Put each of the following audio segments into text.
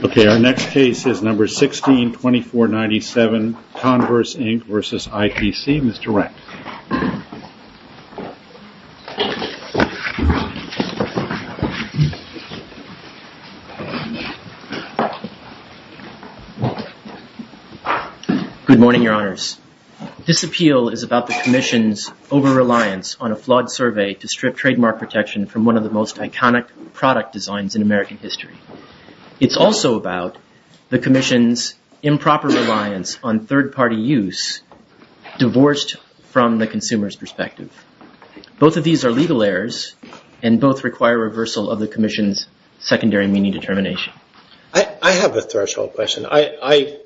Okay, our next case is number 16, 2497 Converse, Inc. v. ITC. Mr. Reck. Good morning, Your Honors. This appeal is about the Commission's over-reliance on a flawed survey to strip trademark protection from one of the most iconic product designs in American history. It's also about the Commission's improper reliance on third-party use, divorced from the consumer's perspective. Both of these are legal errors and both require reversal of the Commission's secondary meaning determination. I have a threshold question. I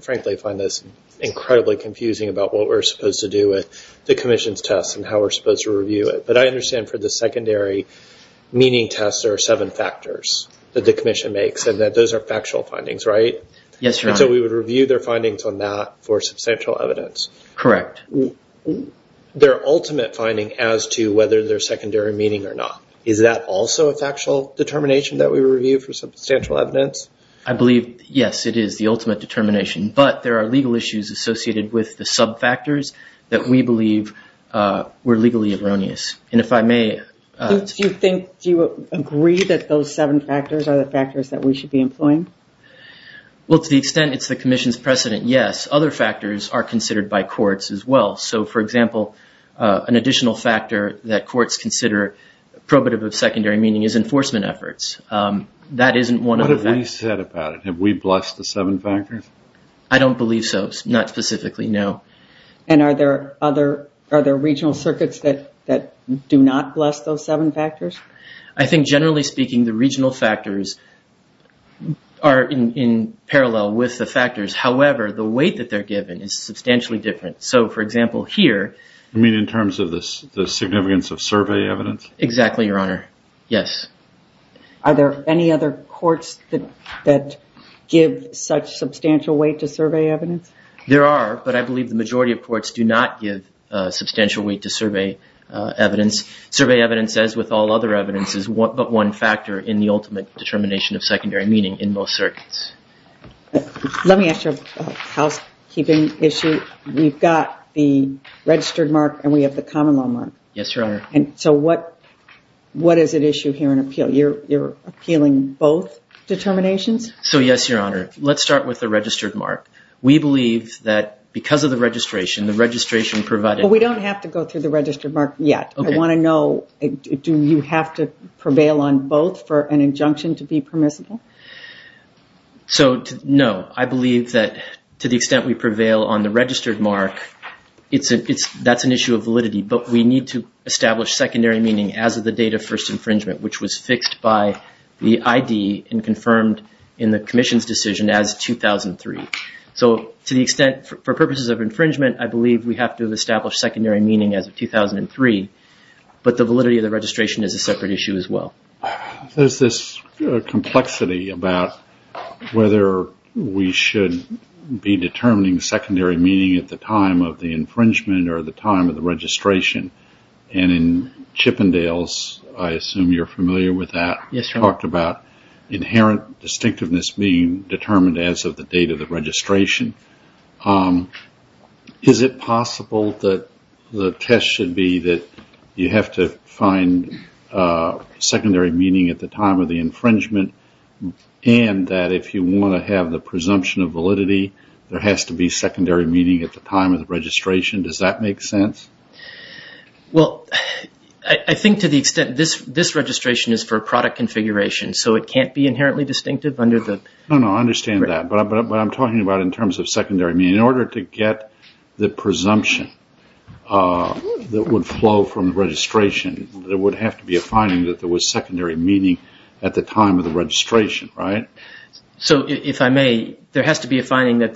frankly find this incredibly confusing about what we're supposed to do with the Commission's test and how we're supposed to review it. But I understand for the secondary meaning test, there are seven factors that the Commission makes and that those are factual findings, right? Yes, Your Honor. And so we would review their findings on that for substantial evidence. Correct. Their ultimate finding as to whether there's secondary meaning or not. Is that also a factual determination that we review for substantial evidence? I believe, yes, it is the ultimate determination. But there are legal issues associated with the sub-factors that we believe were legally erroneous. And if I may... Do you think, do you agree that those seven factors are the factors that we should be employing? Well, to the extent it's the Commission's precedent, yes. Other factors are considered by courts as well. So for example, an additional factor that courts consider probative of secondary meaning is enforcement efforts. That isn't one of the factors... What have they said about it? Have we blessed the seven factors? I don't believe so. Not specifically, no. And are there other regional circuits that do not bless those seven factors? I think generally speaking, the regional factors are in parallel with the factors. However, the weight that they're given is substantially different. So for example, here... You mean in terms of the significance of survey evidence? Exactly, Your Honor. Yes. Are there any other courts that give such substantial weight to survey evidence? There are, but I believe the majority of courts do not give substantial weight to survey evidence. Survey evidence, as with all other evidence, is but one factor in the ultimate determination of secondary meaning in most circuits. Let me ask you a housekeeping issue. We've got the registered mark and we have the common law mark. Yes, Your Honor. So what is at issue here in appeal? You're appealing both determinations? So yes, Your Honor. Let's start with the registered mark. We believe that because of the registration, the registration provided... But we don't have to go through the registered mark yet. Okay. I want to know, do you have to prevail on both for an injunction to be permissible? So, no. I believe that to the extent we prevail on the registered mark, that's an issue of validity. But we need to establish secondary meaning as of the date of first infringement, which was fixed by the ID and confirmed in the Commission's decision as 2003. So to the extent, for purposes of infringement, I believe we have to establish secondary meaning as of 2003. But the validity of the registration is a separate issue as well. There's this complexity about whether we should be determining secondary meaning at the time of the infringement or the time of the registration. And in Chippendales, I assume you're familiar with that. Yes, Your Honor. It talked about inherent distinctiveness being determined as of the date of the registration. Is it possible that the test should be that you have to find secondary meaning at the time of the infringement and that if you want to have the presumption of validity, there has to be secondary meaning at the time of the registration? Does that make sense? Well, I think to the extent this registration is for a product configuration, so it can't be inherently distinctive under the... No, no, I understand that. But I'm talking about in terms of secondary meaning. In order to get the presumption that would flow from the registration, there would have to be a finding that there was secondary meaning at the time of the registration, right? So if I may, there has to be a finding that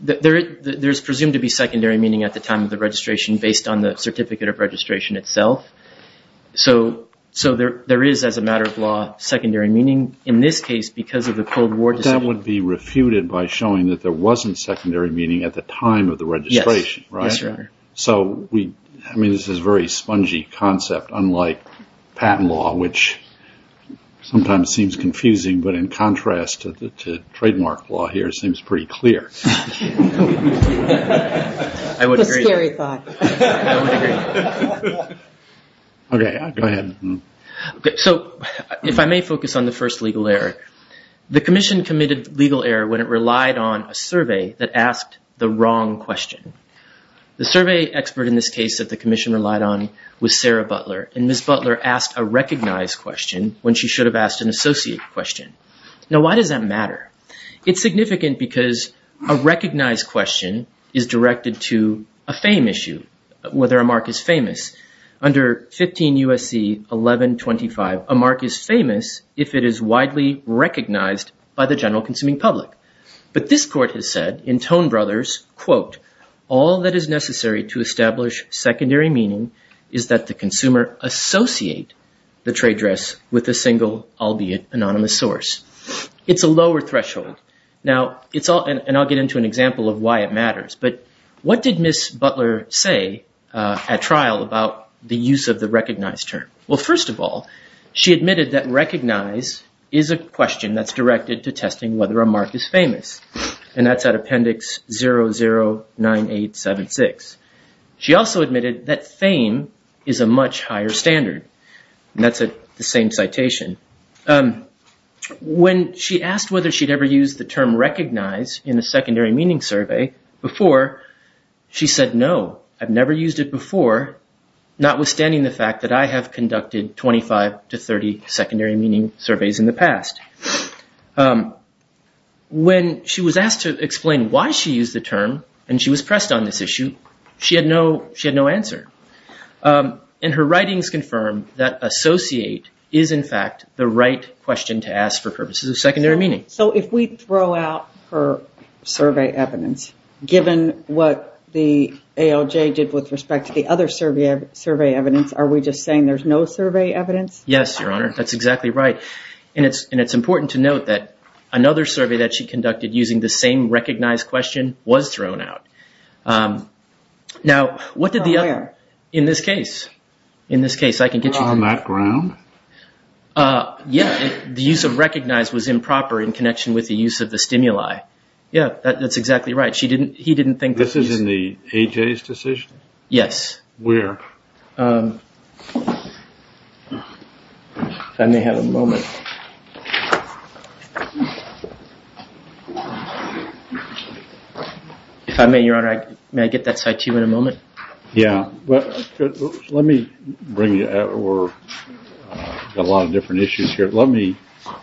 there's presumed to be secondary meaning at the time of the registration based on the certificate of registration itself. So there is, as a matter of law, secondary meaning. In this case, because of the Cold War... That would be refuted by showing that there wasn't secondary meaning at the time of the registration, right? Yes, Your Honor. So, I mean, this is a very spongy concept, unlike patent law, which sometimes seems confusing, but in contrast to trademark law here, it seems pretty clear. That's a scary thought. Okay, go ahead. So, if I may focus on the first legal error. The Commission committed legal error when it relied on a survey that asked the wrong question. The survey expert in this case that the Commission relied on was Sarah Butler, and Ms. Butler asked a recognized question when she should have asked an associate question. Now, why does that matter? It's significant because a recognized question is directed to a fame issue, whether a mark is famous. Under 15 U.S.C. 1125, a mark is famous if it is widely recognized by the general consuming public. But this court has said in Tone Brothers, quote, all that is necessary to establish secondary meaning is that the consumer associate the trade dress with a single, albeit anonymous, source. It's a lower threshold. Now, it's all... But what did Ms. Butler say at trial about the use of the recognized term? Well, first of all, she admitted that recognize is a question that's directed to testing whether a mark is famous. And that's at Appendix 009876. She also admitted that fame is a much higher standard. And that's the same citation. When she asked whether she'd ever used the term recognize in a secondary meaning survey before, she said no. I've never used it before, notwithstanding the fact that I have conducted 25 to 30 secondary meaning surveys in the past. When she was asked to explain why she used the term and she was pressed on this issue, she had no answer. And her writings confirm that associate is, in fact, the right question to ask for purposes of secondary meaning. So if we throw out her survey evidence, given what the ALJ did with respect to the other survey evidence, are we just saying there's no survey evidence? Yes, Your Honor. That's exactly right. And it's important to note that another survey that she conducted using the same recognize question was thrown out. Now, what did the other, in this case, in this case, I can get you. On that ground? Yes, the use of recognize was improper in connection with the use of the stimuli. Yes, that's exactly right. She didn't, he didn't think. This is in the AJ's decision? Yes. Where? If I may have a moment. If I may, Your Honor, may I get that site to you in a moment? Yeah. Let me bring you, or a lot of different issues here. Let me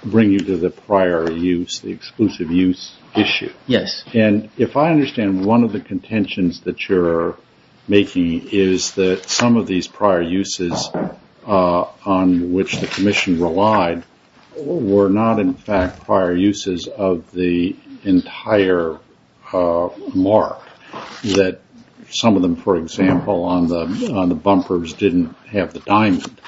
bring you to the prior use, the exclusive use issue. Yes. And if I understand, one of the contentions that you're making is that some of these prior uses on which the commission relied, were not, in fact, prior uses of the entire mark. That some of them, for example, on the bumpers didn't have the diamond.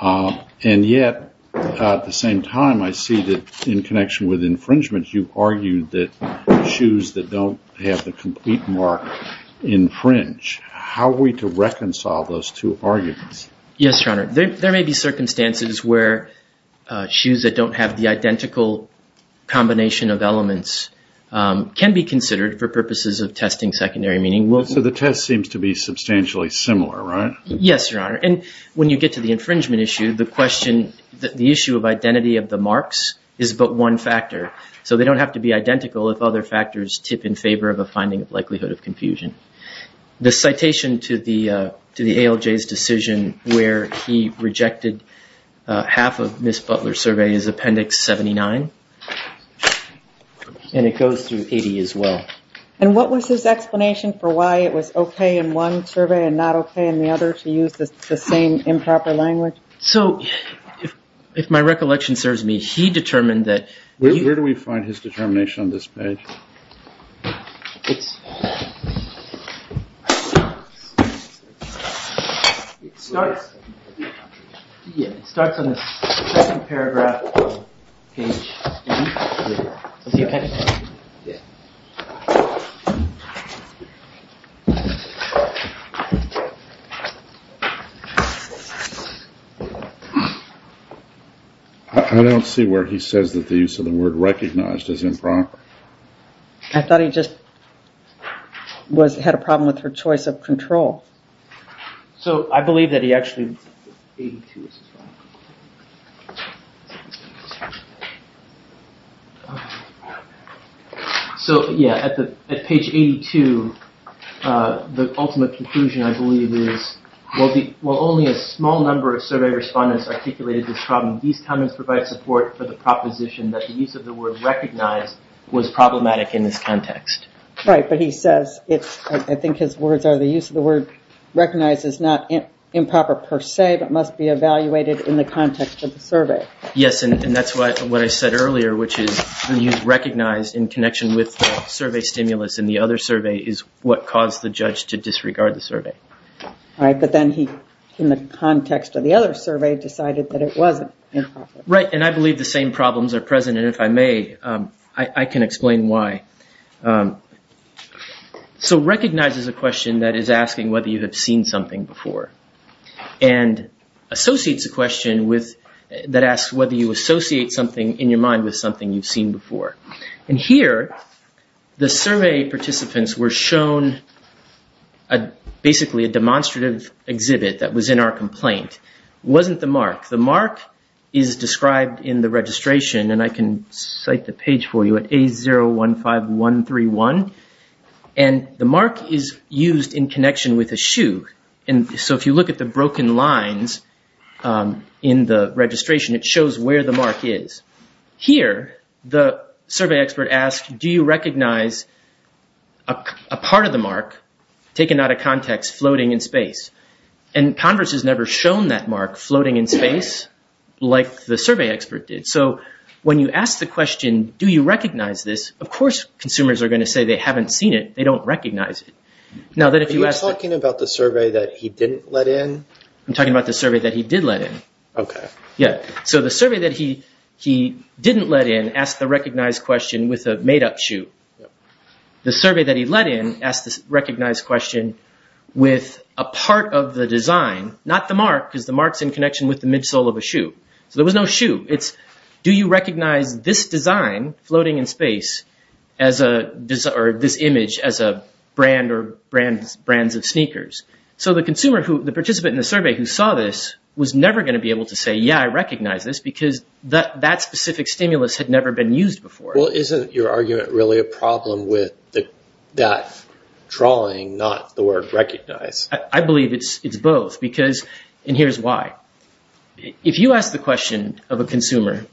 And yet, at the same time, I see that in connection with infringement, you argued that shoes that don't have the complete mark infringe. How are we to reconcile those two arguments? Yes, Your Honor. There may be circumstances where shoes that don't have the identical combination of elements can be considered for purposes of testing secondary meaning. So the test seems to be substantially similar, right? Yes, Your Honor. And when you get to the infringement issue, the question, the issue of identity of the marks is but one factor. So they don't have to be identical if other factors tip in favor of a finding of likelihood of confusion. The citation to the ALJ's decision where he rejected half of Ms. Butler's survey is Appendix 79. And it goes through 80 as well. And what was his explanation for why it was okay in one survey and not okay in the other to use the same improper language? So if my recollection serves me, he determined that- Where do we find his determination on this page? It's- It starts- Yeah, it starts on the second paragraph of page- I don't see where he says that the use of the word recognized is improper. I thought he just had a problem with her choice of control. So I believe that he actually- So yeah, at page 82, the ultimate conclusion I believe is, While only a small number of survey respondents articulated this problem, these comments provide support for the proposition that the use of the word recognized was problematic in this context. Right, but he says, I think his words are the use of the word recognized is not improper per se, but must be evaluated in the context of the survey. Yes, and that's what I said earlier, which is the use of recognized in connection with the survey stimulus in the other survey is what caused the judge to disregard the survey. But then he, in the context of the other survey, decided that it wasn't improper. Right, and I believe the same problems are present, and if I may, I can explain why. So recognized is a question that is asking whether you have seen something before, and associates a question that asks whether you associate something in your mind with something you've seen before. And here, the survey participants were shown basically a demonstrative exhibit that was in our complaint. It wasn't the mark. The mark is described in the registration, and I can cite the page for you at A015131, and the mark is used in connection with a shoe. So if you look at the broken lines in the registration, it shows where the mark is. Here, the survey expert asked, do you recognize a part of the mark taken out of context floating in space? And Congress has never shown that mark floating in space like the survey expert did. So when you ask the question, do you recognize this, of course consumers are going to say they haven't seen it. They don't recognize it. Are you talking about the survey that he didn't let in? I'm talking about the survey that he did let in. Okay. Yeah. So the survey that he didn't let in asked the recognized question with a made-up shoe. The survey that he let in asked the recognized question with a part of the design, not the mark, because the mark's in connection with the midsole of a shoe. So there was no shoe. It's, do you recognize this design floating in space, or this image, as a brand or brands of sneakers? So the consumer who, the participant in the survey who saw this was never going to be able to say, yeah, I recognize this, because that specific stimulus had never been used before. Well, isn't your argument really a problem with that drawing, not the word recognize? I believe it's both, because, and here's why. If you ask the question of a consumer,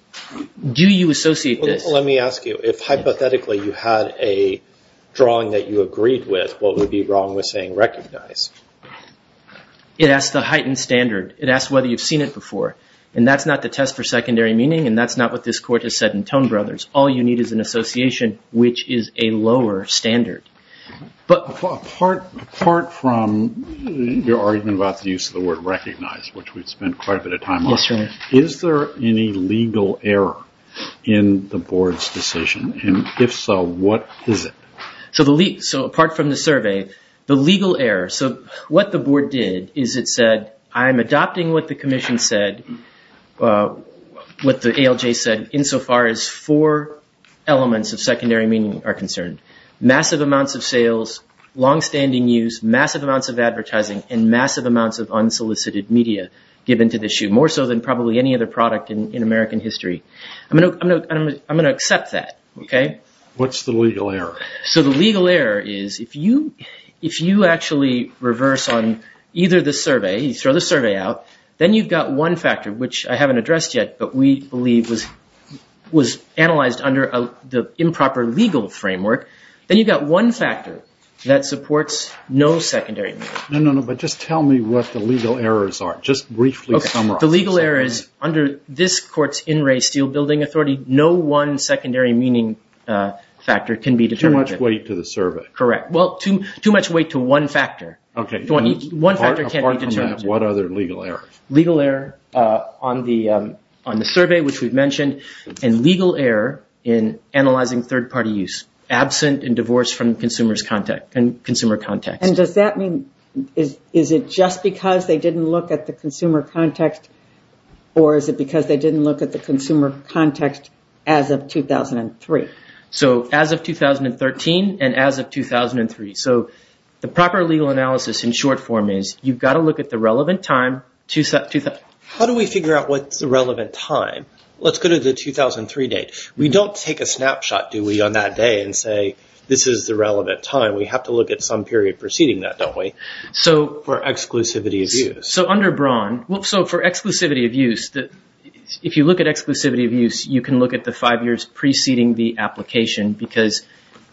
do you associate this? Let me ask you, if hypothetically you had a drawing that you agreed with, what would be wrong with saying recognize? It asks the heightened standard. It asks whether you've seen it before, and that's not the test for secondary meaning, and that's not what this court has said in Tone Brothers. All you need is an association which is a lower standard. But apart from your argument about the use of the word recognize, which we've spent quite a bit of time on, is there any legal error in the board's decision, and if so, what is it? So apart from the survey, the legal error, so what the board did is it said, I'm adopting what the commission said, what the ALJ said, insofar as four elements of secondary meaning are concerned. Massive amounts of sales, longstanding use, massive amounts of advertising, and massive amounts of unsolicited media given to the issue, more so than probably any other product in American history. I'm going to accept that, okay? What's the legal error? So the legal error is if you actually reverse on either the survey, you throw the survey out, then you've got one factor, which I haven't addressed yet, but we believe was analyzed under the improper legal framework, then you've got one factor that supports no secondary meaning. No, no, no, but just tell me what the legal errors are. Just briefly summarize. Okay. The legal error is under this court's in-ray steel building authority, no one secondary meaning factor can be determined. Too much weight to the survey. Correct. Well, too much weight to one factor. Okay. One factor can't be determined. Apart from that, what other legal errors? Legal error on the survey, which we've mentioned, and legal error in analyzing third-party use, absent and divorced from consumer context. And does that mean is it just because they didn't look at the consumer context or is it because they didn't look at the consumer context as of 2003? So as of 2013 and as of 2003. So the proper legal analysis in short form is you've got to look at the relevant time. How do we figure out what's the relevant time? Let's go to the 2003 date. We don't take a snapshot, do we, on that day and say this is the relevant time. We have to look at some period preceding that, don't we, for exclusivity of use. So under Braun, so for exclusivity of use, if you look at exclusivity of use, you can look at the five years preceding the application because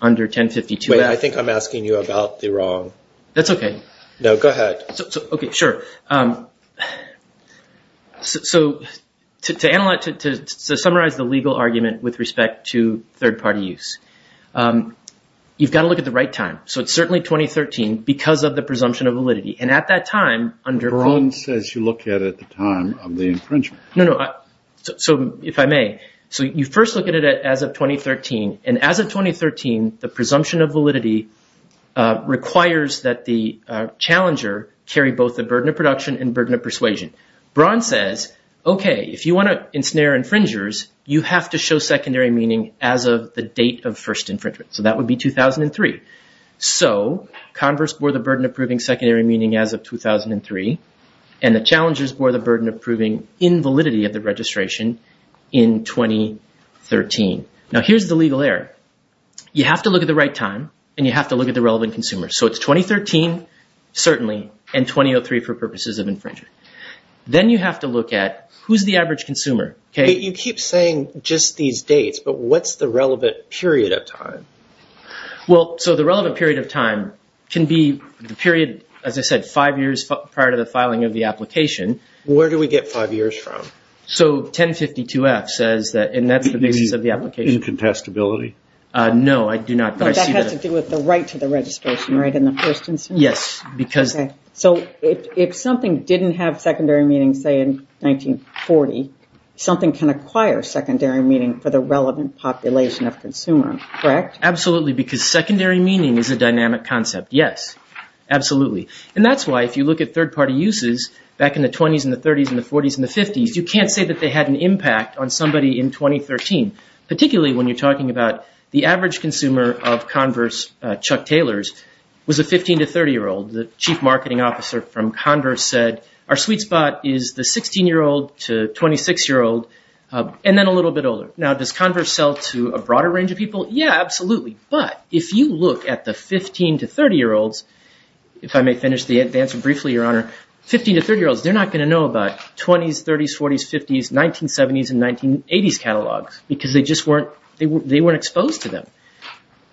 under 1052. Wait, I think I'm asking you about the wrong. That's okay. No, go ahead. Okay, sure. So to summarize the legal argument with respect to third-party use, you've got to look at the right time. So it's certainly 2013 because of the presumption of validity. And at that time under – Braun says you look at it at the time of the infringement. No, no. So if I may, so you first look at it as of 2013. And as of 2013, the presumption of validity requires that the challenger carry both the burden of production and burden of persuasion. Braun says, okay, if you want to ensnare infringers, you have to show secondary meaning as of the date of first infringement. So that would be 2003. So converse bore the burden of proving secondary meaning as of 2003, and the challengers bore the burden of proving invalidity of the registration in 2013. Now here's the legal error. You have to look at the right time and you have to look at the relevant consumer. So it's 2013, certainly, and 2003 for purposes of infringement. Then you have to look at who's the average consumer. You keep saying just these dates, but what's the relevant period of time? Well, so the relevant period of time can be the period, as I said, five years prior to the filing of the application. Where do we get five years from? So 1052-F says that, and that's the basis of the application. Incontestability? No, I do not. But that has to do with the right to the registration, right, in the first instance? Yes. So if something didn't have secondary meaning, say, in 1940, something can acquire secondary meaning for the relevant population of consumer, correct? Absolutely, because secondary meaning is a dynamic concept, yes. Absolutely. And that's why if you look at third-party uses back in the 20s and the 30s and the 40s and the 50s, you can't say that they had an impact on somebody in 2013, particularly when you're talking about the average consumer of converse, Chuck Taylors, was a 15- to 30-year-old. The chief marketing officer from Converse said, our sweet spot is the 16-year-old to 26-year-old, and then a little bit older. Now, does Converse sell to a broader range of people? Yeah, absolutely. But if you look at the 15- to 30-year-olds, if I may finish the answer briefly, Your Honor, 15- to 30-year-olds, they're not going to know about 20s, 30s, 40s, 50s, 1970s, and 1980s catalogs because they just weren't exposed to them.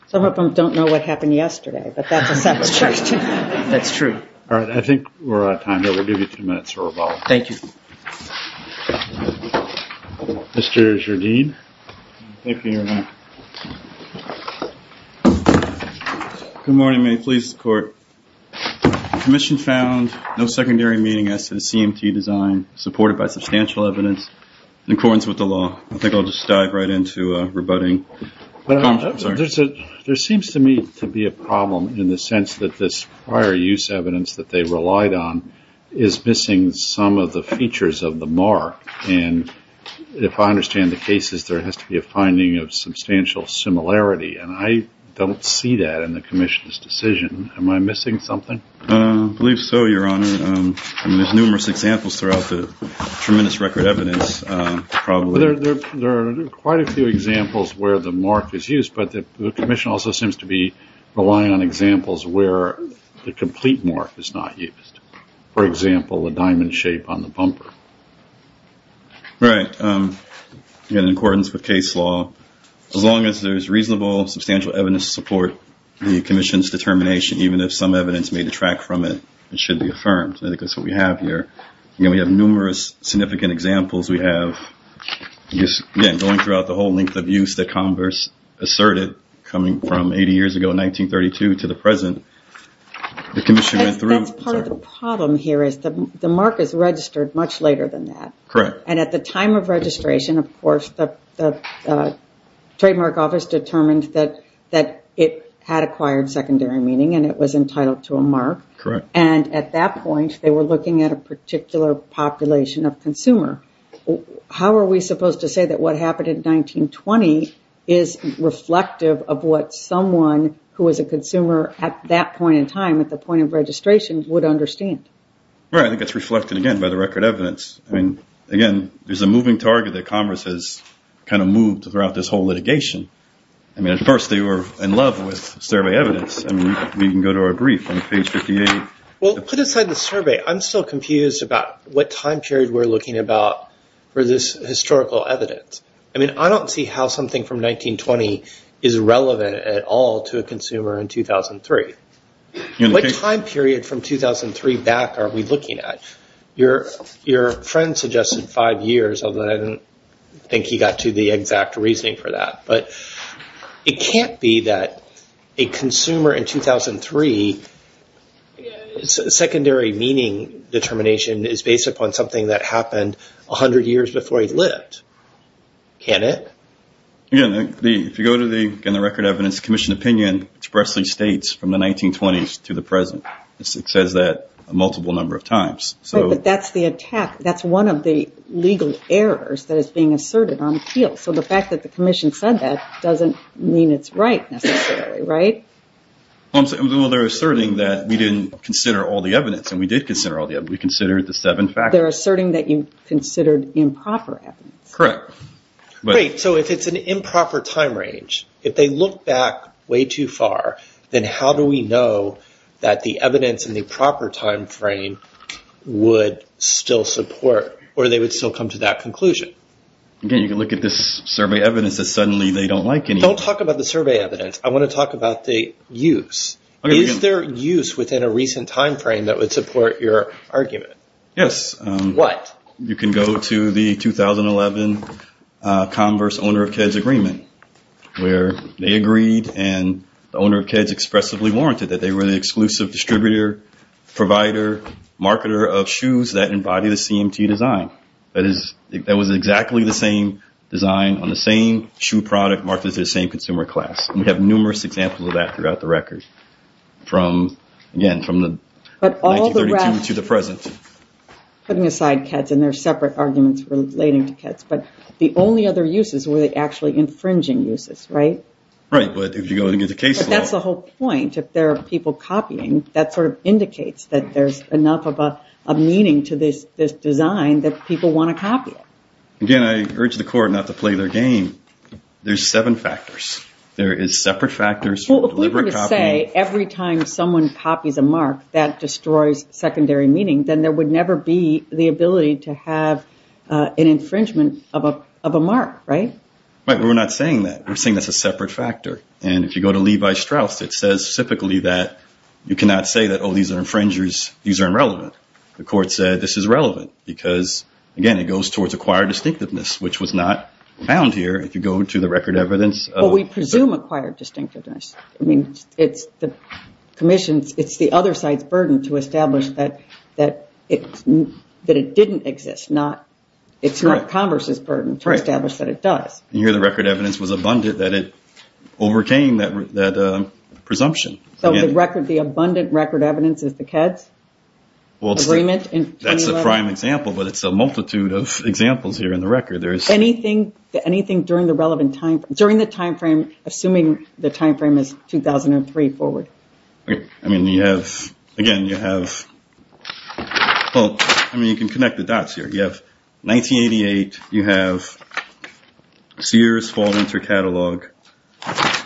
Some of them don't know what happened yesterday, but that's a separate question. That's true. All right. I think we're out of time here. We'll give you two minutes for rebuttal. Thank you. Mr. Jardine. Thank you, Your Honor. Good morning. May it please the Court. Commission found no secondary meaning as to the CMT design, supported by substantial evidence, in accordance with the law. I think I'll just dive right into rebutting. There seems to me to be a problem in the sense that this prior use evidence that they relied on is missing some of the features of the mark. And if I understand the cases, there has to be a finding of substantial similarity, and I don't see that in the Commission's decision. Am I missing something? I believe so, Your Honor. There's numerous examples throughout the tremendous record of evidence. There are quite a few examples where the mark is used, but the Commission also seems to be relying on examples where the complete mark is not used. For example, the diamond shape on the bumper. Right. In accordance with case law, as long as there's reasonable, substantial evidence to support the Commission's determination, even if some evidence may detract from it, it should be affirmed. I think that's what we have here. We have numerous significant examples. We have going throughout the whole length of use that Converse asserted, coming from 80 years ago in 1932 to the present. That's part of the problem here is the mark is registered much later than that. Correct. And at the time of registration, of course, the Trademark Office determined that it had acquired secondary meaning, and it was entitled to a mark. Correct. And at that point, they were looking at a particular population of consumer. How are we supposed to say that what happened in 1920 is reflective of what someone who was a consumer at that point in time, at the point of registration, would understand? Right. I think it's reflected, again, by the record evidence. Again, there's a moving target that Converse has kind of moved throughout this whole litigation. I mean, of course, they were in love with survey evidence. We can go to our brief on page 58. Well, put aside the survey, I'm still confused about what time period we're looking about for this historical evidence. I mean, I don't see how something from 1920 is relevant at all to a consumer in 2003. What time period from 2003 back are we looking at? Your friend suggested five years, although I don't think he got to the exact reasoning for that. But it can't be that a consumer in 2003, secondary meaning determination is based upon something that happened 100 years before he lived, can it? Yeah. If you go to the Record Evidence Commission opinion, it expressly states from the 1920s to the present. It says that a multiple number of times. Right, but that's the attack. That's one of the legal errors that is being asserted on appeal. So the fact that the commission said that doesn't mean it's right necessarily, right? Well, they're asserting that we didn't consider all the evidence, and we did consider all the evidence. We considered the seven factors. They're asserting that you considered improper evidence. Correct. Great. So if it's an improper time range, if they look back way too far, then how do we know that the evidence in the proper time frame would still support or they would still come to that conclusion? Again, you can look at this survey evidence that suddenly they don't like anymore. Don't talk about the survey evidence. I want to talk about the use. Is there use within a recent time frame that would support your argument? Yes. What? You can go to the 2011 Converse Owner of Keds Agreement, where they agreed and the owner of Keds expressively warranted that they were the exclusive distributor, provider, marketer of shoes that embody the CMT design. That was exactly the same design on the same shoe product marketed to the same consumer class. And we have numerous examples of that throughout the record, again, from 1932 to the present. Putting aside Keds, and there are separate arguments relating to Keds, but the only other uses were the actually infringing uses, right? Right, but if you go against the case law. But that's the whole point. If there are people copying, that sort of indicates that there's enough of a meaning to this design that people want to copy it. Again, I urge the court not to play their game. There's seven factors. There is separate factors for deliberate copying. Well, if we were to say every time someone copies a mark, that destroys secondary meaning, then there would never be the ability to have an infringement of a mark, right? Right, but we're not saying that. We're saying that's a separate factor. And if you go to Levi Strauss, it says specifically that you cannot say that, oh, these are infringers, these are irrelevant. The court said this is relevant because, again, it goes towards acquired distinctiveness, which was not found here if you go to the record evidence. Well, we presume acquired distinctiveness. I mean, it's the commission's, it's the other side's burden to establish that it didn't exist. It's not Congress's burden to establish that it does. You hear the record evidence was abundant that it overcame that presumption. So the record, the abundant record evidence is the KEDS agreement? That's the prime example, but it's a multitude of examples here in the record. Anything during the relevant time frame, during the time frame, assuming the time frame is 2003 forward? I mean, you have, again, you have, well, I mean, you can connect the dots here. You have 1988, you have Sears fall into catalog,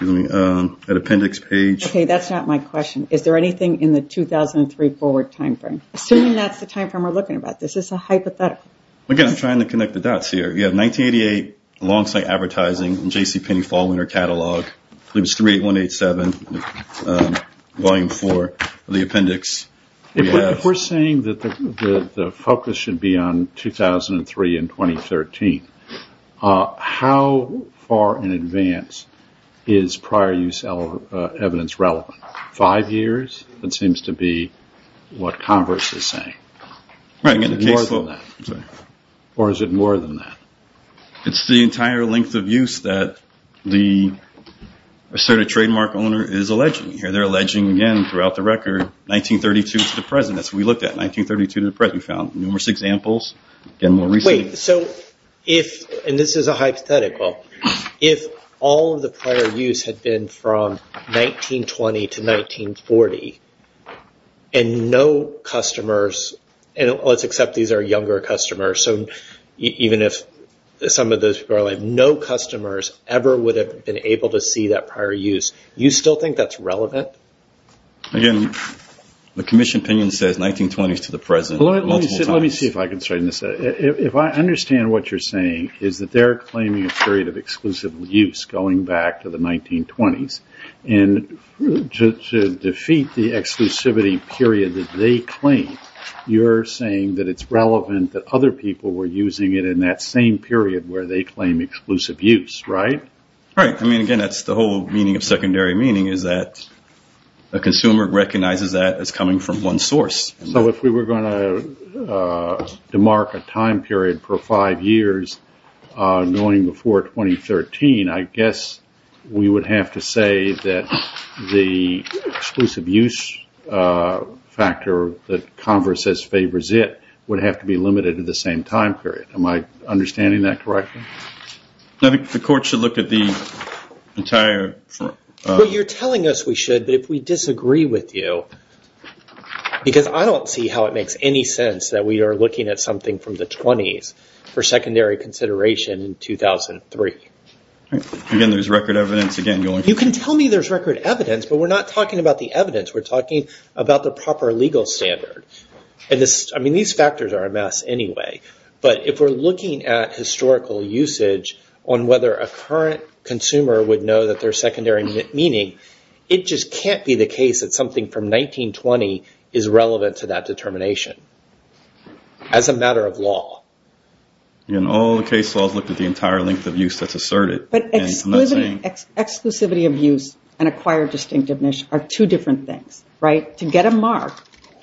an appendix page. Okay, that's not my question. Is there anything in the 2003 forward time frame? Assuming that's the time frame we're looking at, this is a hypothetical. Again, I'm trying to connect the dots here. You have 1988 alongside advertising in J.C. Penney fall winter catalog. It was 38187, volume four of the appendix. If we're saying that the focus should be on 2003 and 2013, how far in advance is prior use evidence relevant? Five years, it seems to be what Congress is saying. Or is it more than that? It's the entire length of use that the asserted trademark owner is alleging. Here they're alleging, again, throughout the record, 1932 to the present. That's what we looked at, 1932 to the present. We found numerous examples, again, more recently. This is a hypothetical. If all of the prior use had been from 1920 to 1940, and no customers, and let's accept these are younger customers, even if some of those people are alive, no customers ever would have been able to see that prior use. You still think that's relevant? Again, the commission opinion says 1920 to the present. Let me see if I can straighten this out. If I understand what you're saying is that they're claiming a period of exclusive use going back to the 1920s, and to defeat the exclusivity period that they claim, you're saying that it's relevant that other people were using it in that same period where they claim exclusive use, right? Right. Again, that's the whole meaning of secondary meaning is that a consumer recognizes that as coming from one source. If we were going to demark a time period for five years going before 2013, I guess we would have to say that the exclusive use factor that Converse says favors it would have to be limited to the same time period. Am I understanding that correctly? I think the court should look at the entire- You're telling us we should, but if we disagree with you, because I don't see how it makes any sense that we are looking at something from the 20s for secondary consideration in 2003. Again, there's record evidence. You can tell me there's record evidence, but we're not talking about the evidence. We're talking about the proper legal standard. These factors are a mess anyway, but if we're looking at historical usage on whether a current consumer would know that there's secondary meaning, it just can't be the case that something from 1920 is relevant to that determination as a matter of law. Again, all the case laws look at the entire length of use that's asserted. But exclusivity of use and acquired distinctiveness are two different things, right? To get a mark,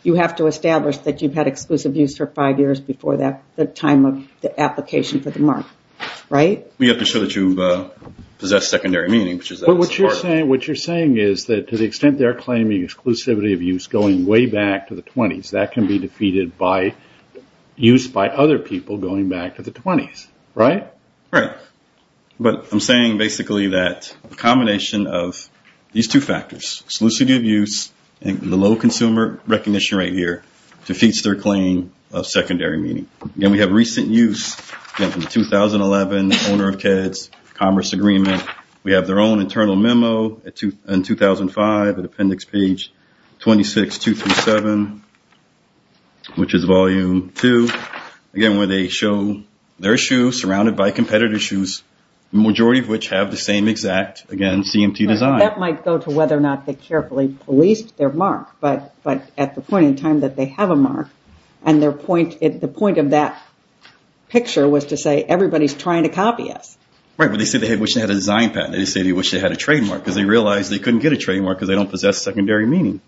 you have to establish that you've had exclusive use for five years before the time of the application for the mark, right? You have to show that you possess secondary meaning, which is- But what you're saying is that to the extent they're claiming exclusivity of use going way back to the 20s, that can be defeated by use by other people going back to the 20s, right? Right. But I'm saying basically that a combination of these two factors, exclusivity of use and the low consumer recognition right here, defeats their claim of secondary meaning. Again, we have recent use. Again, from 2011, owner of KEDS, Commerce Agreement. We have their own internal memo in 2005 at Appendix Page 26237, which is Volume 2. Again, where they show their shoe surrounded by competitor's shoes, the majority of which have the same exact, again, CMT design. That might go to whether or not they carefully policed their mark. But at the point in time that they have a mark and the point of that picture was to say everybody's trying to copy us. Right, but they say they wish they had a design patent. They say they wish they had a trademark because they realized they couldn't get a trademark because they don't possess secondary meaning.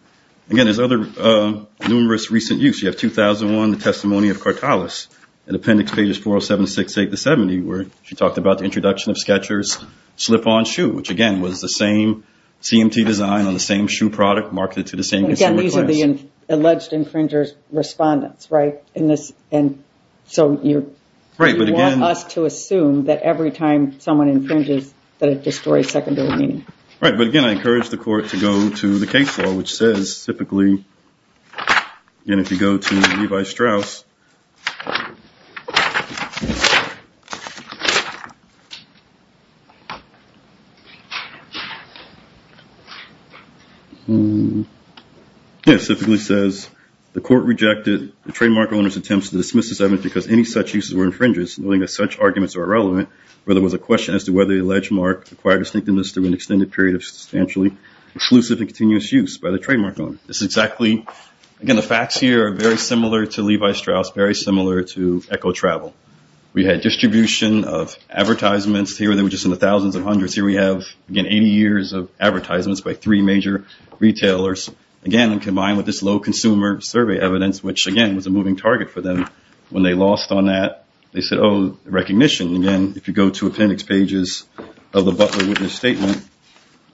Again, there's other numerous recent use. You have 2001, the testimony of Cartalis at Appendix Pages 4076, 8 to 70, where she talked about the introduction of Skecher's slip-on shoe, which again was the same CMT design on the same shoe product marketed to the same consumer class. Again, these are the alleged infringer's respondents, right? So you want us to assume that every time someone infringes that it destroys secondary meaning. Right, but again, I encourage the court to go to the case law, which says, typically, and if you go to Levi Strauss, it typically says, the court rejected the trademark owner's attempts to dismiss this evidence because any such uses were infringes, knowing that such arguments are irrelevant, where there was a question as to whether the alleged mark acquired distinctiveness through an extended period of substantially exclusive and continuous use by the trademark owner. This is exactly, again, the facts here are very similar to Levi Strauss. Very similar to Echo Travel. We had distribution of advertisements here. They were just in the thousands and hundreds. Here we have, again, 80 years of advertisements by three major retailers, again, combined with this low consumer survey evidence, which, again, was a moving target for them. When they lost on that, they said, oh, recognition. Again, if you go to Appendix Pages of the Butler Witness Statement,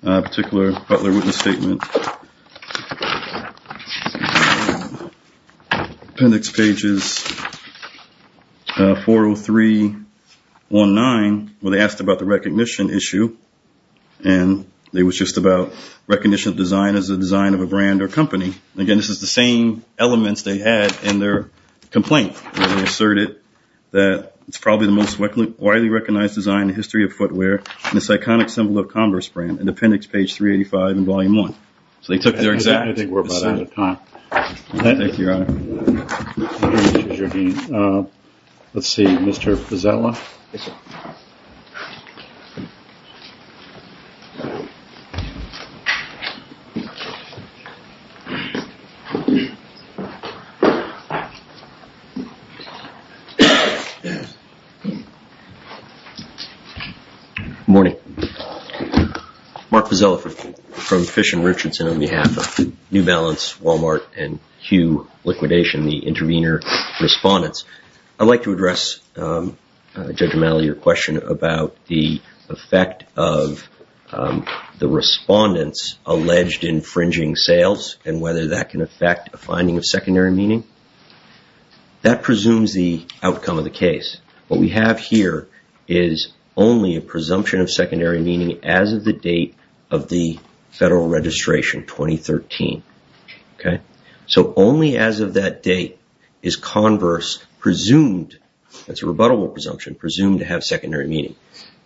particular Butler Witness Statement, Appendix Pages 40319, where they asked about the recognition issue, and it was just about recognition of design as a design of a brand or company. Again, this is the same elements they had in their complaint, where they asserted that it's probably the most widely recognized design in the history of footwear, and this iconic symbol of Converse brand in Appendix Page 385 in Volume 1. So they took their exact decision at the time. Thank you, Your Honor. Thank you, Judge Jardine. Let's see. Mr. Fazzella? Yes, sir. Good morning. Mark Fazzella from Fish & Richardson on behalf of New Balance, Walmart, and Q Liquidation, the intervener respondents. I'd like to address, Judge O'Malley, your question about the effect of the respondents' alleged infringing sales and whether that can affect a finding of secondary meaning. That presumes the outcome of the case. What we have here is only a presumption of secondary meaning as of the date of the federal registration, 2013. So only as of that date is Converse presumed, that's a rebuttable presumption, presumed to have secondary meaning.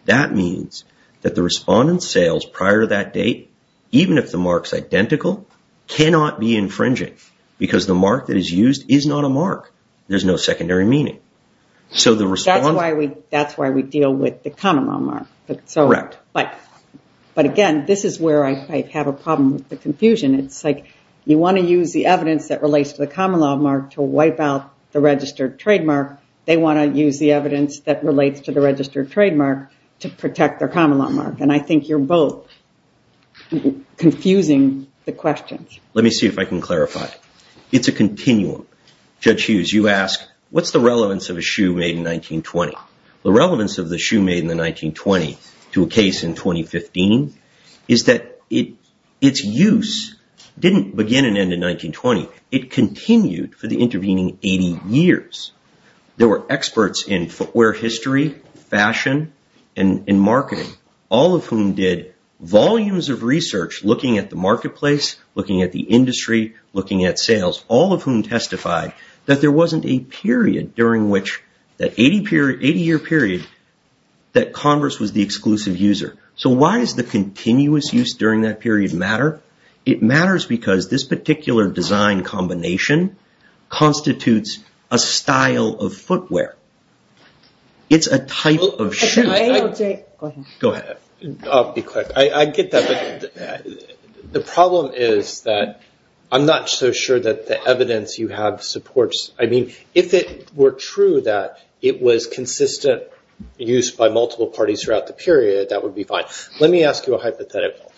That means that the respondents' sales prior to that date, even if the mark's identical, cannot be infringing because the mark that is used is not a mark. There's no secondary meaning. That's why we deal with the common law mark. Correct. But again, this is where I have a problem with the confusion. It's like you want to use the evidence that relates to the common law mark to wipe out the registered trademark. They want to use the evidence that relates to the registered trademark to protect their common law mark. And I think you're both confusing the questions. Let me see if I can clarify. It's a continuum. Judge Hughes, you asked, what's the relevance of a shoe made in 1920? The relevance of the shoe made in the 1920 to a case in 2015 is that its use didn't begin and end in 1920. It continued for the intervening 80 years. There were experts in footwear history, fashion, and marketing, all of whom did volumes of research looking at the marketplace, looking at the industry, looking at sales, all of whom testified that there wasn't a period during which, that 80-year period, that Converse was the exclusive user. So why does the continuous use during that period matter? It matters because this particular design combination constitutes a style of footwear. It's a type of shoe. Go ahead. I'll be quick. I get that, but the problem is that I'm not so sure that the evidence you have supports. I mean, if it were true that it was consistent use by multiple parties throughout the period, that would be fine. Let me ask you a hypothetical.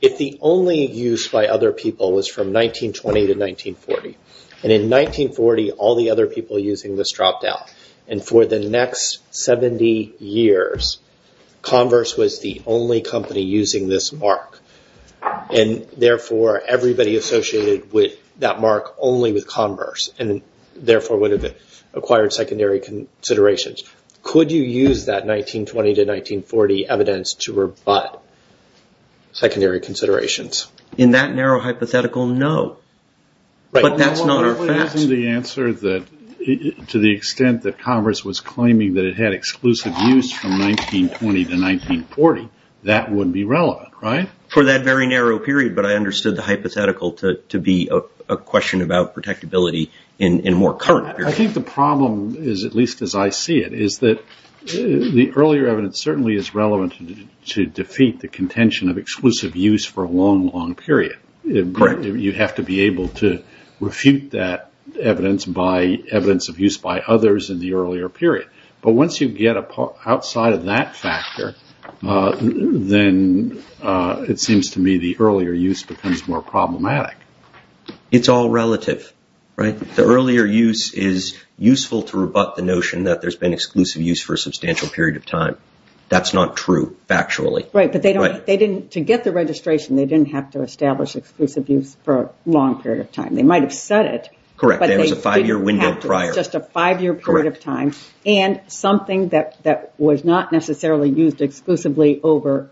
If the only use by other people was from 1920 to 1940, and in 1940, all the other people using this dropped out, and for the next 70 years, Converse was the only company using this mark, and therefore everybody associated that mark only with Converse, and therefore would have acquired secondary considerations, could you use that 1920 to 1940 evidence to rebut secondary considerations? In that narrow hypothetical, no, but that's not our fact. Well, isn't the answer that to the extent that Converse was claiming that it had exclusive use from 1920 to 1940, that would be relevant, right? For that very narrow period, but I understood the hypothetical to be a question about protectability in more current periods. I think the problem is, at least as I see it, is that the earlier evidence certainly is relevant to defeat the contention of exclusive use for a long, long period. Correct. You have to be able to refute that evidence of use by others in the earlier period, but once you get outside of that factor, then it seems to me the earlier use becomes more problematic. It's all relative, right? The earlier use is useful to rebut the notion that there's been exclusive use for a substantial period of time. That's not true, factually. Right, but to get the registration, they didn't have to establish exclusive use for a long period of time. They might have said it, but they didn't have to. Correct, there was a five-year window prior. It's just a five-year period of time, and something that was not necessarily used exclusively over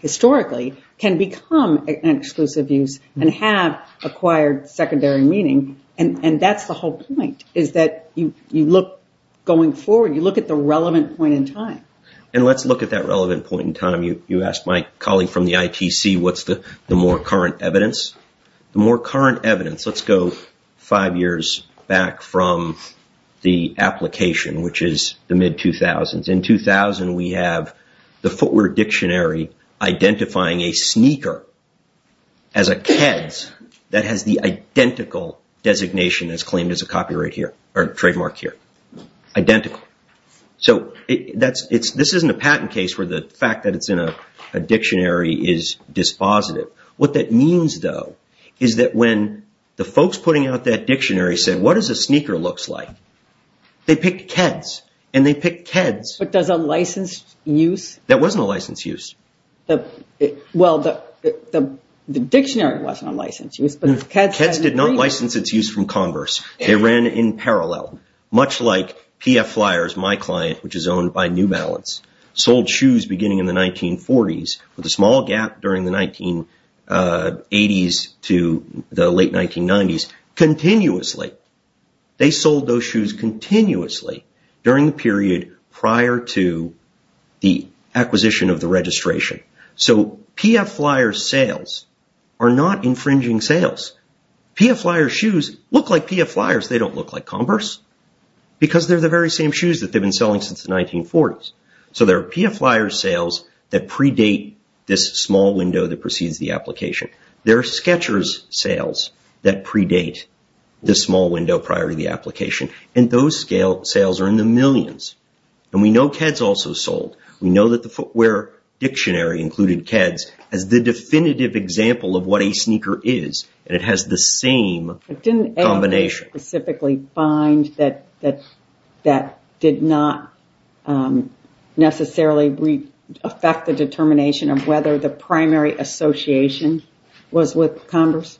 historically can become an exclusive use and have acquired secondary meaning, and that's the whole point, is that you look going forward, you look at the relevant point in time. And let's look at that relevant point in time. You asked my colleague from the ITC what's the more current evidence. The more current evidence, let's go five years back from the application, which is the mid-2000s. In 2000, we have the footwear dictionary identifying a sneaker as a Keds that has the identical designation as claimed as a copyright here, or trademark here. Identical. So, this isn't a patent case where the fact that it's in a dictionary is dispositive. What that means, though, is that when the folks putting out that dictionary said, what does a sneaker look like? They picked Keds, and they picked Keds. But that's a licensed use? That wasn't a licensed use. Well, the dictionary wasn't a licensed use, but the Keds... The Keds did not license its use from Converse. They ran in parallel. Much like PF Flyers, my client, which is owned by New Balance, sold shoes beginning in the 1940s with a small gap during the 1980s to the late 1990s, continuously. They sold those shoes continuously during the period prior to the acquisition of the registration. So, PF Flyers sales are not infringing sales. PF Flyers shoes look like PF Flyers. They don't look like Converse. Because they're the very same shoes that they've been selling since the 1940s. So, there are PF Flyers sales that predate this small window that precedes the application. There are Skechers sales that predate this small window prior to the application. And those sales are in the millions. And we know Keds also sold. We know that the footwear dictionary included Keds as the definitive example of what a sneaker is. And it has the same combination. Didn't ALJ specifically find that that did not necessarily affect the determination of whether the primary association was with Converse?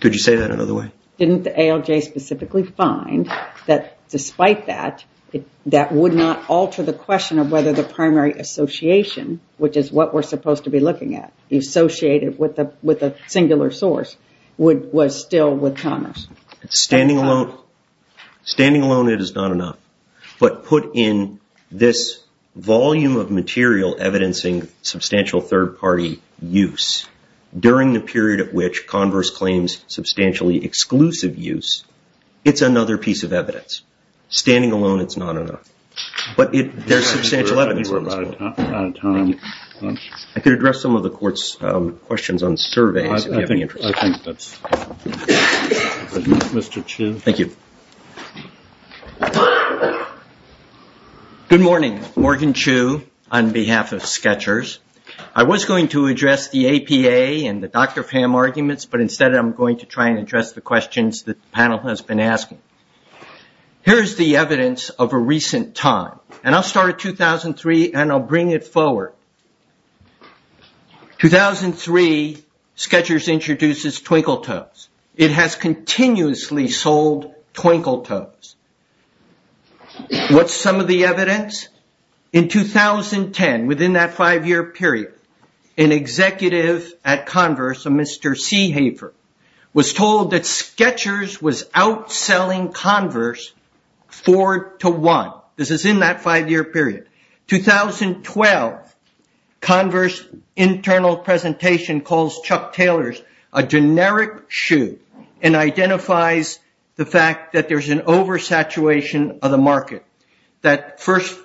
Could you say that another way? Didn't ALJ specifically find that despite that, that would not alter the question of whether the primary association, which is what we're supposed to be looking at, associated with a singular source, was still with Converse? Standing alone, it is not enough. But put in this volume of material evidencing substantial third-party use during the period at which Converse claims substantially exclusive use, it's another piece of evidence. Standing alone, it's not enough. But there's substantial evidence. I could address some of the Court's questions on surveys if you have any interest. Mr. Chu. Thank you. Good morning. Morgan Chu on behalf of Skechers. I was going to address the APA and the Dr. Pham arguments, but instead I'm going to try and address the questions that the panel has been asking. Here's the evidence of a recent time, and I'll start at 2003 and I'll bring it forward. 2003, Skechers introduces Twinkle Toes. It has continuously sold Twinkle Toes. What's some of the evidence? In 2010, within that five-year period, an executive at Converse, a Mr. Seehafer, was told that Skechers was outselling Converse four to one. This is in that five-year period. 2012, Converse internal presentation calls Chuck Taylors a generic shoe and identifies the fact that there's an oversaturation of the market. That first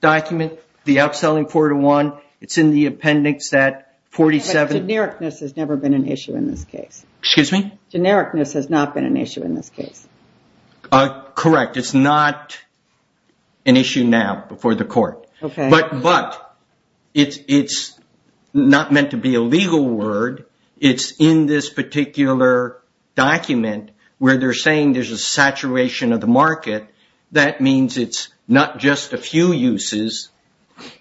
document, the outselling four to one, it's in the appendix at 47. Genericness has never been an issue in this case. Excuse me? Genericness has not been an issue in this case. Correct. It's not an issue now before the court, but it's not meant to be a legal word. It's in this particular document where they're saying there's a saturation of the market. That means it's not just a few uses,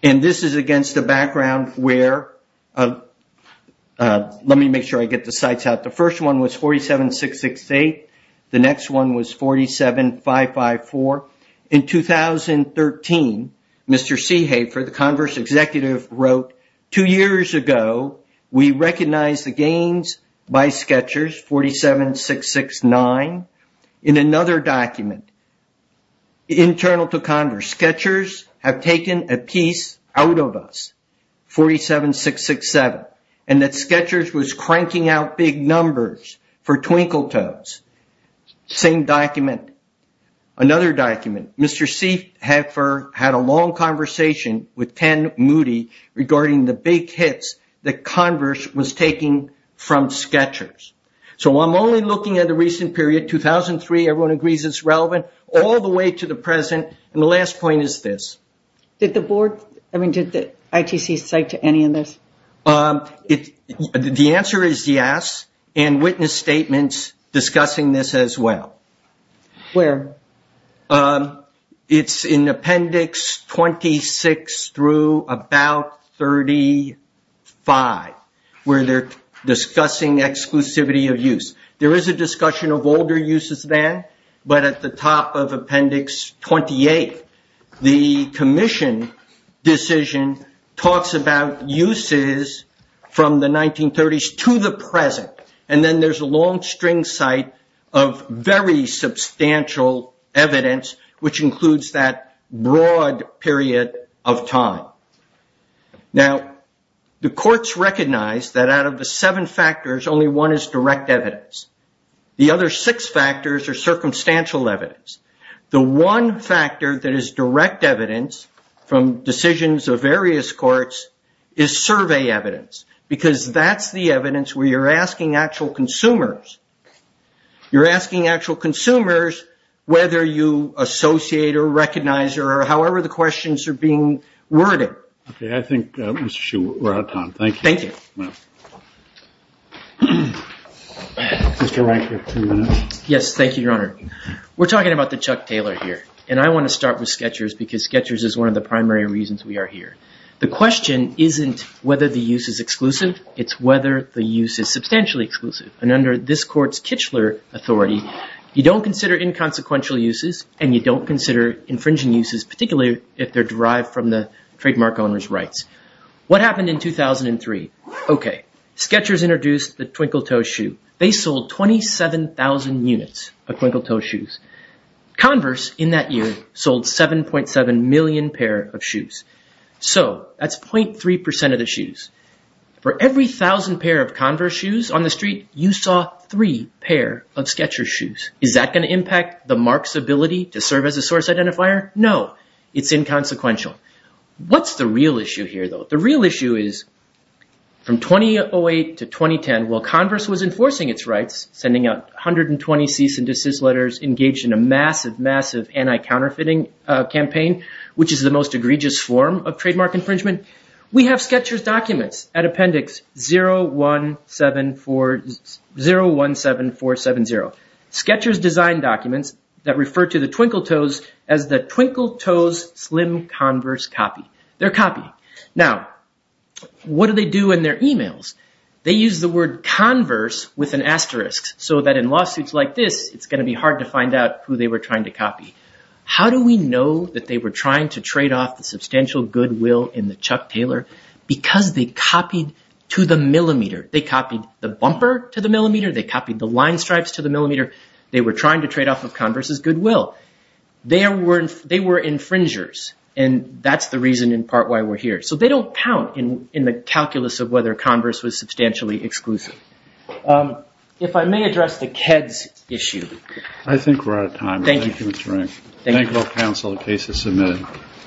and this is against the background where... Let me make sure I get the sites out. The first one was 47668. The next one was 47554. In 2013, Mr. Seehafer, the Converse executive, wrote, Two years ago, we recognized the gains by Skechers, 47669. In another document, internal to Converse, Skechers have taken a piece out of us, 47667, and that Skechers was cranking out big numbers for Twinkle Toes. Same document. Another document, Mr. Seehafer had a long conversation with Ken Moody regarding the big hits that Converse was taking from Skechers. I'm only looking at the recent period, 2003, everyone agrees it's relevant, all the way to the present. The last point is this. Did the board, I mean, did the ITC cite to any of this? The answer is yes, and witness statements discussing this as well. Where? It's in appendix 26 through about 35, where they're discussing exclusivity of use. There is a discussion of older uses there, but at the top of appendix 28, the commission decision talks about uses from the 1930s to the present, and then there's a long string cite of very substantial evidence, which includes that broad period of time. Now, the courts recognize that out of the seven factors, only one is direct evidence. The other six factors are circumstantial evidence. The one factor that is direct evidence from decisions of various courts is survey evidence, because that's the evidence where you're asking actual consumers. You're asking actual consumers whether you associate or recognize or however the questions are being worded. Okay. I think, Mr. Hsu, we're out of time. Thank you. Thank you. Mr. Rankin, two minutes. Yes, thank you, Your Honor. We're talking about the Chuck Taylor here, and I want to start with Skechers because Skechers is one of the primary reasons we are here. The question isn't whether the use is exclusive. It's whether the use is substantially exclusive, and under this court's Kichler authority, you don't consider inconsequential uses and you don't consider infringing uses, particularly if they're derived from the trademark owner's rights. What happened in 2003? Okay. Skechers introduced the twinkle toe shoe. They sold 27,000 units of twinkle toe shoes. Converse, in that year, sold 7.7 million pair of shoes. So that's 0.3% of the shoes. For every thousand pair of Converse shoes on the street, you saw three pair of Skechers shoes. Is that going to impact the mark's ability to serve as a source identifier? No. It's inconsequential. What's the real issue here, though? The real issue is from 2008 to 2010, while Converse was enforcing its rights, sending out 120 cease and desist letters, engaged in a massive, massive anti-counterfeiting campaign, which is the most egregious form of trademark infringement, we have Skechers documents at appendix 017470. Skechers designed documents that refer to the twinkle toes as the twinkle toes slim Converse copy. They're a copy. Now, what do they do in their e-mails? They use the word Converse with an asterisk so that in lawsuits like this, it's going to be hard to find out who they were trying to copy. How do we know that they were trying to trade off the substantial goodwill in the Chuck Taylor? Because they copied to the millimeter. They copied the bumper to the millimeter. They copied the line stripes to the millimeter. They were trying to trade off of Converse's goodwill. They were infringers, and that's the reason in part why we're here. So they don't count in the calculus of whether Converse was substantially exclusive. If I may address the KEDS issue. I think we're out of time. Thank you. Thank both counsel. The case is submitted.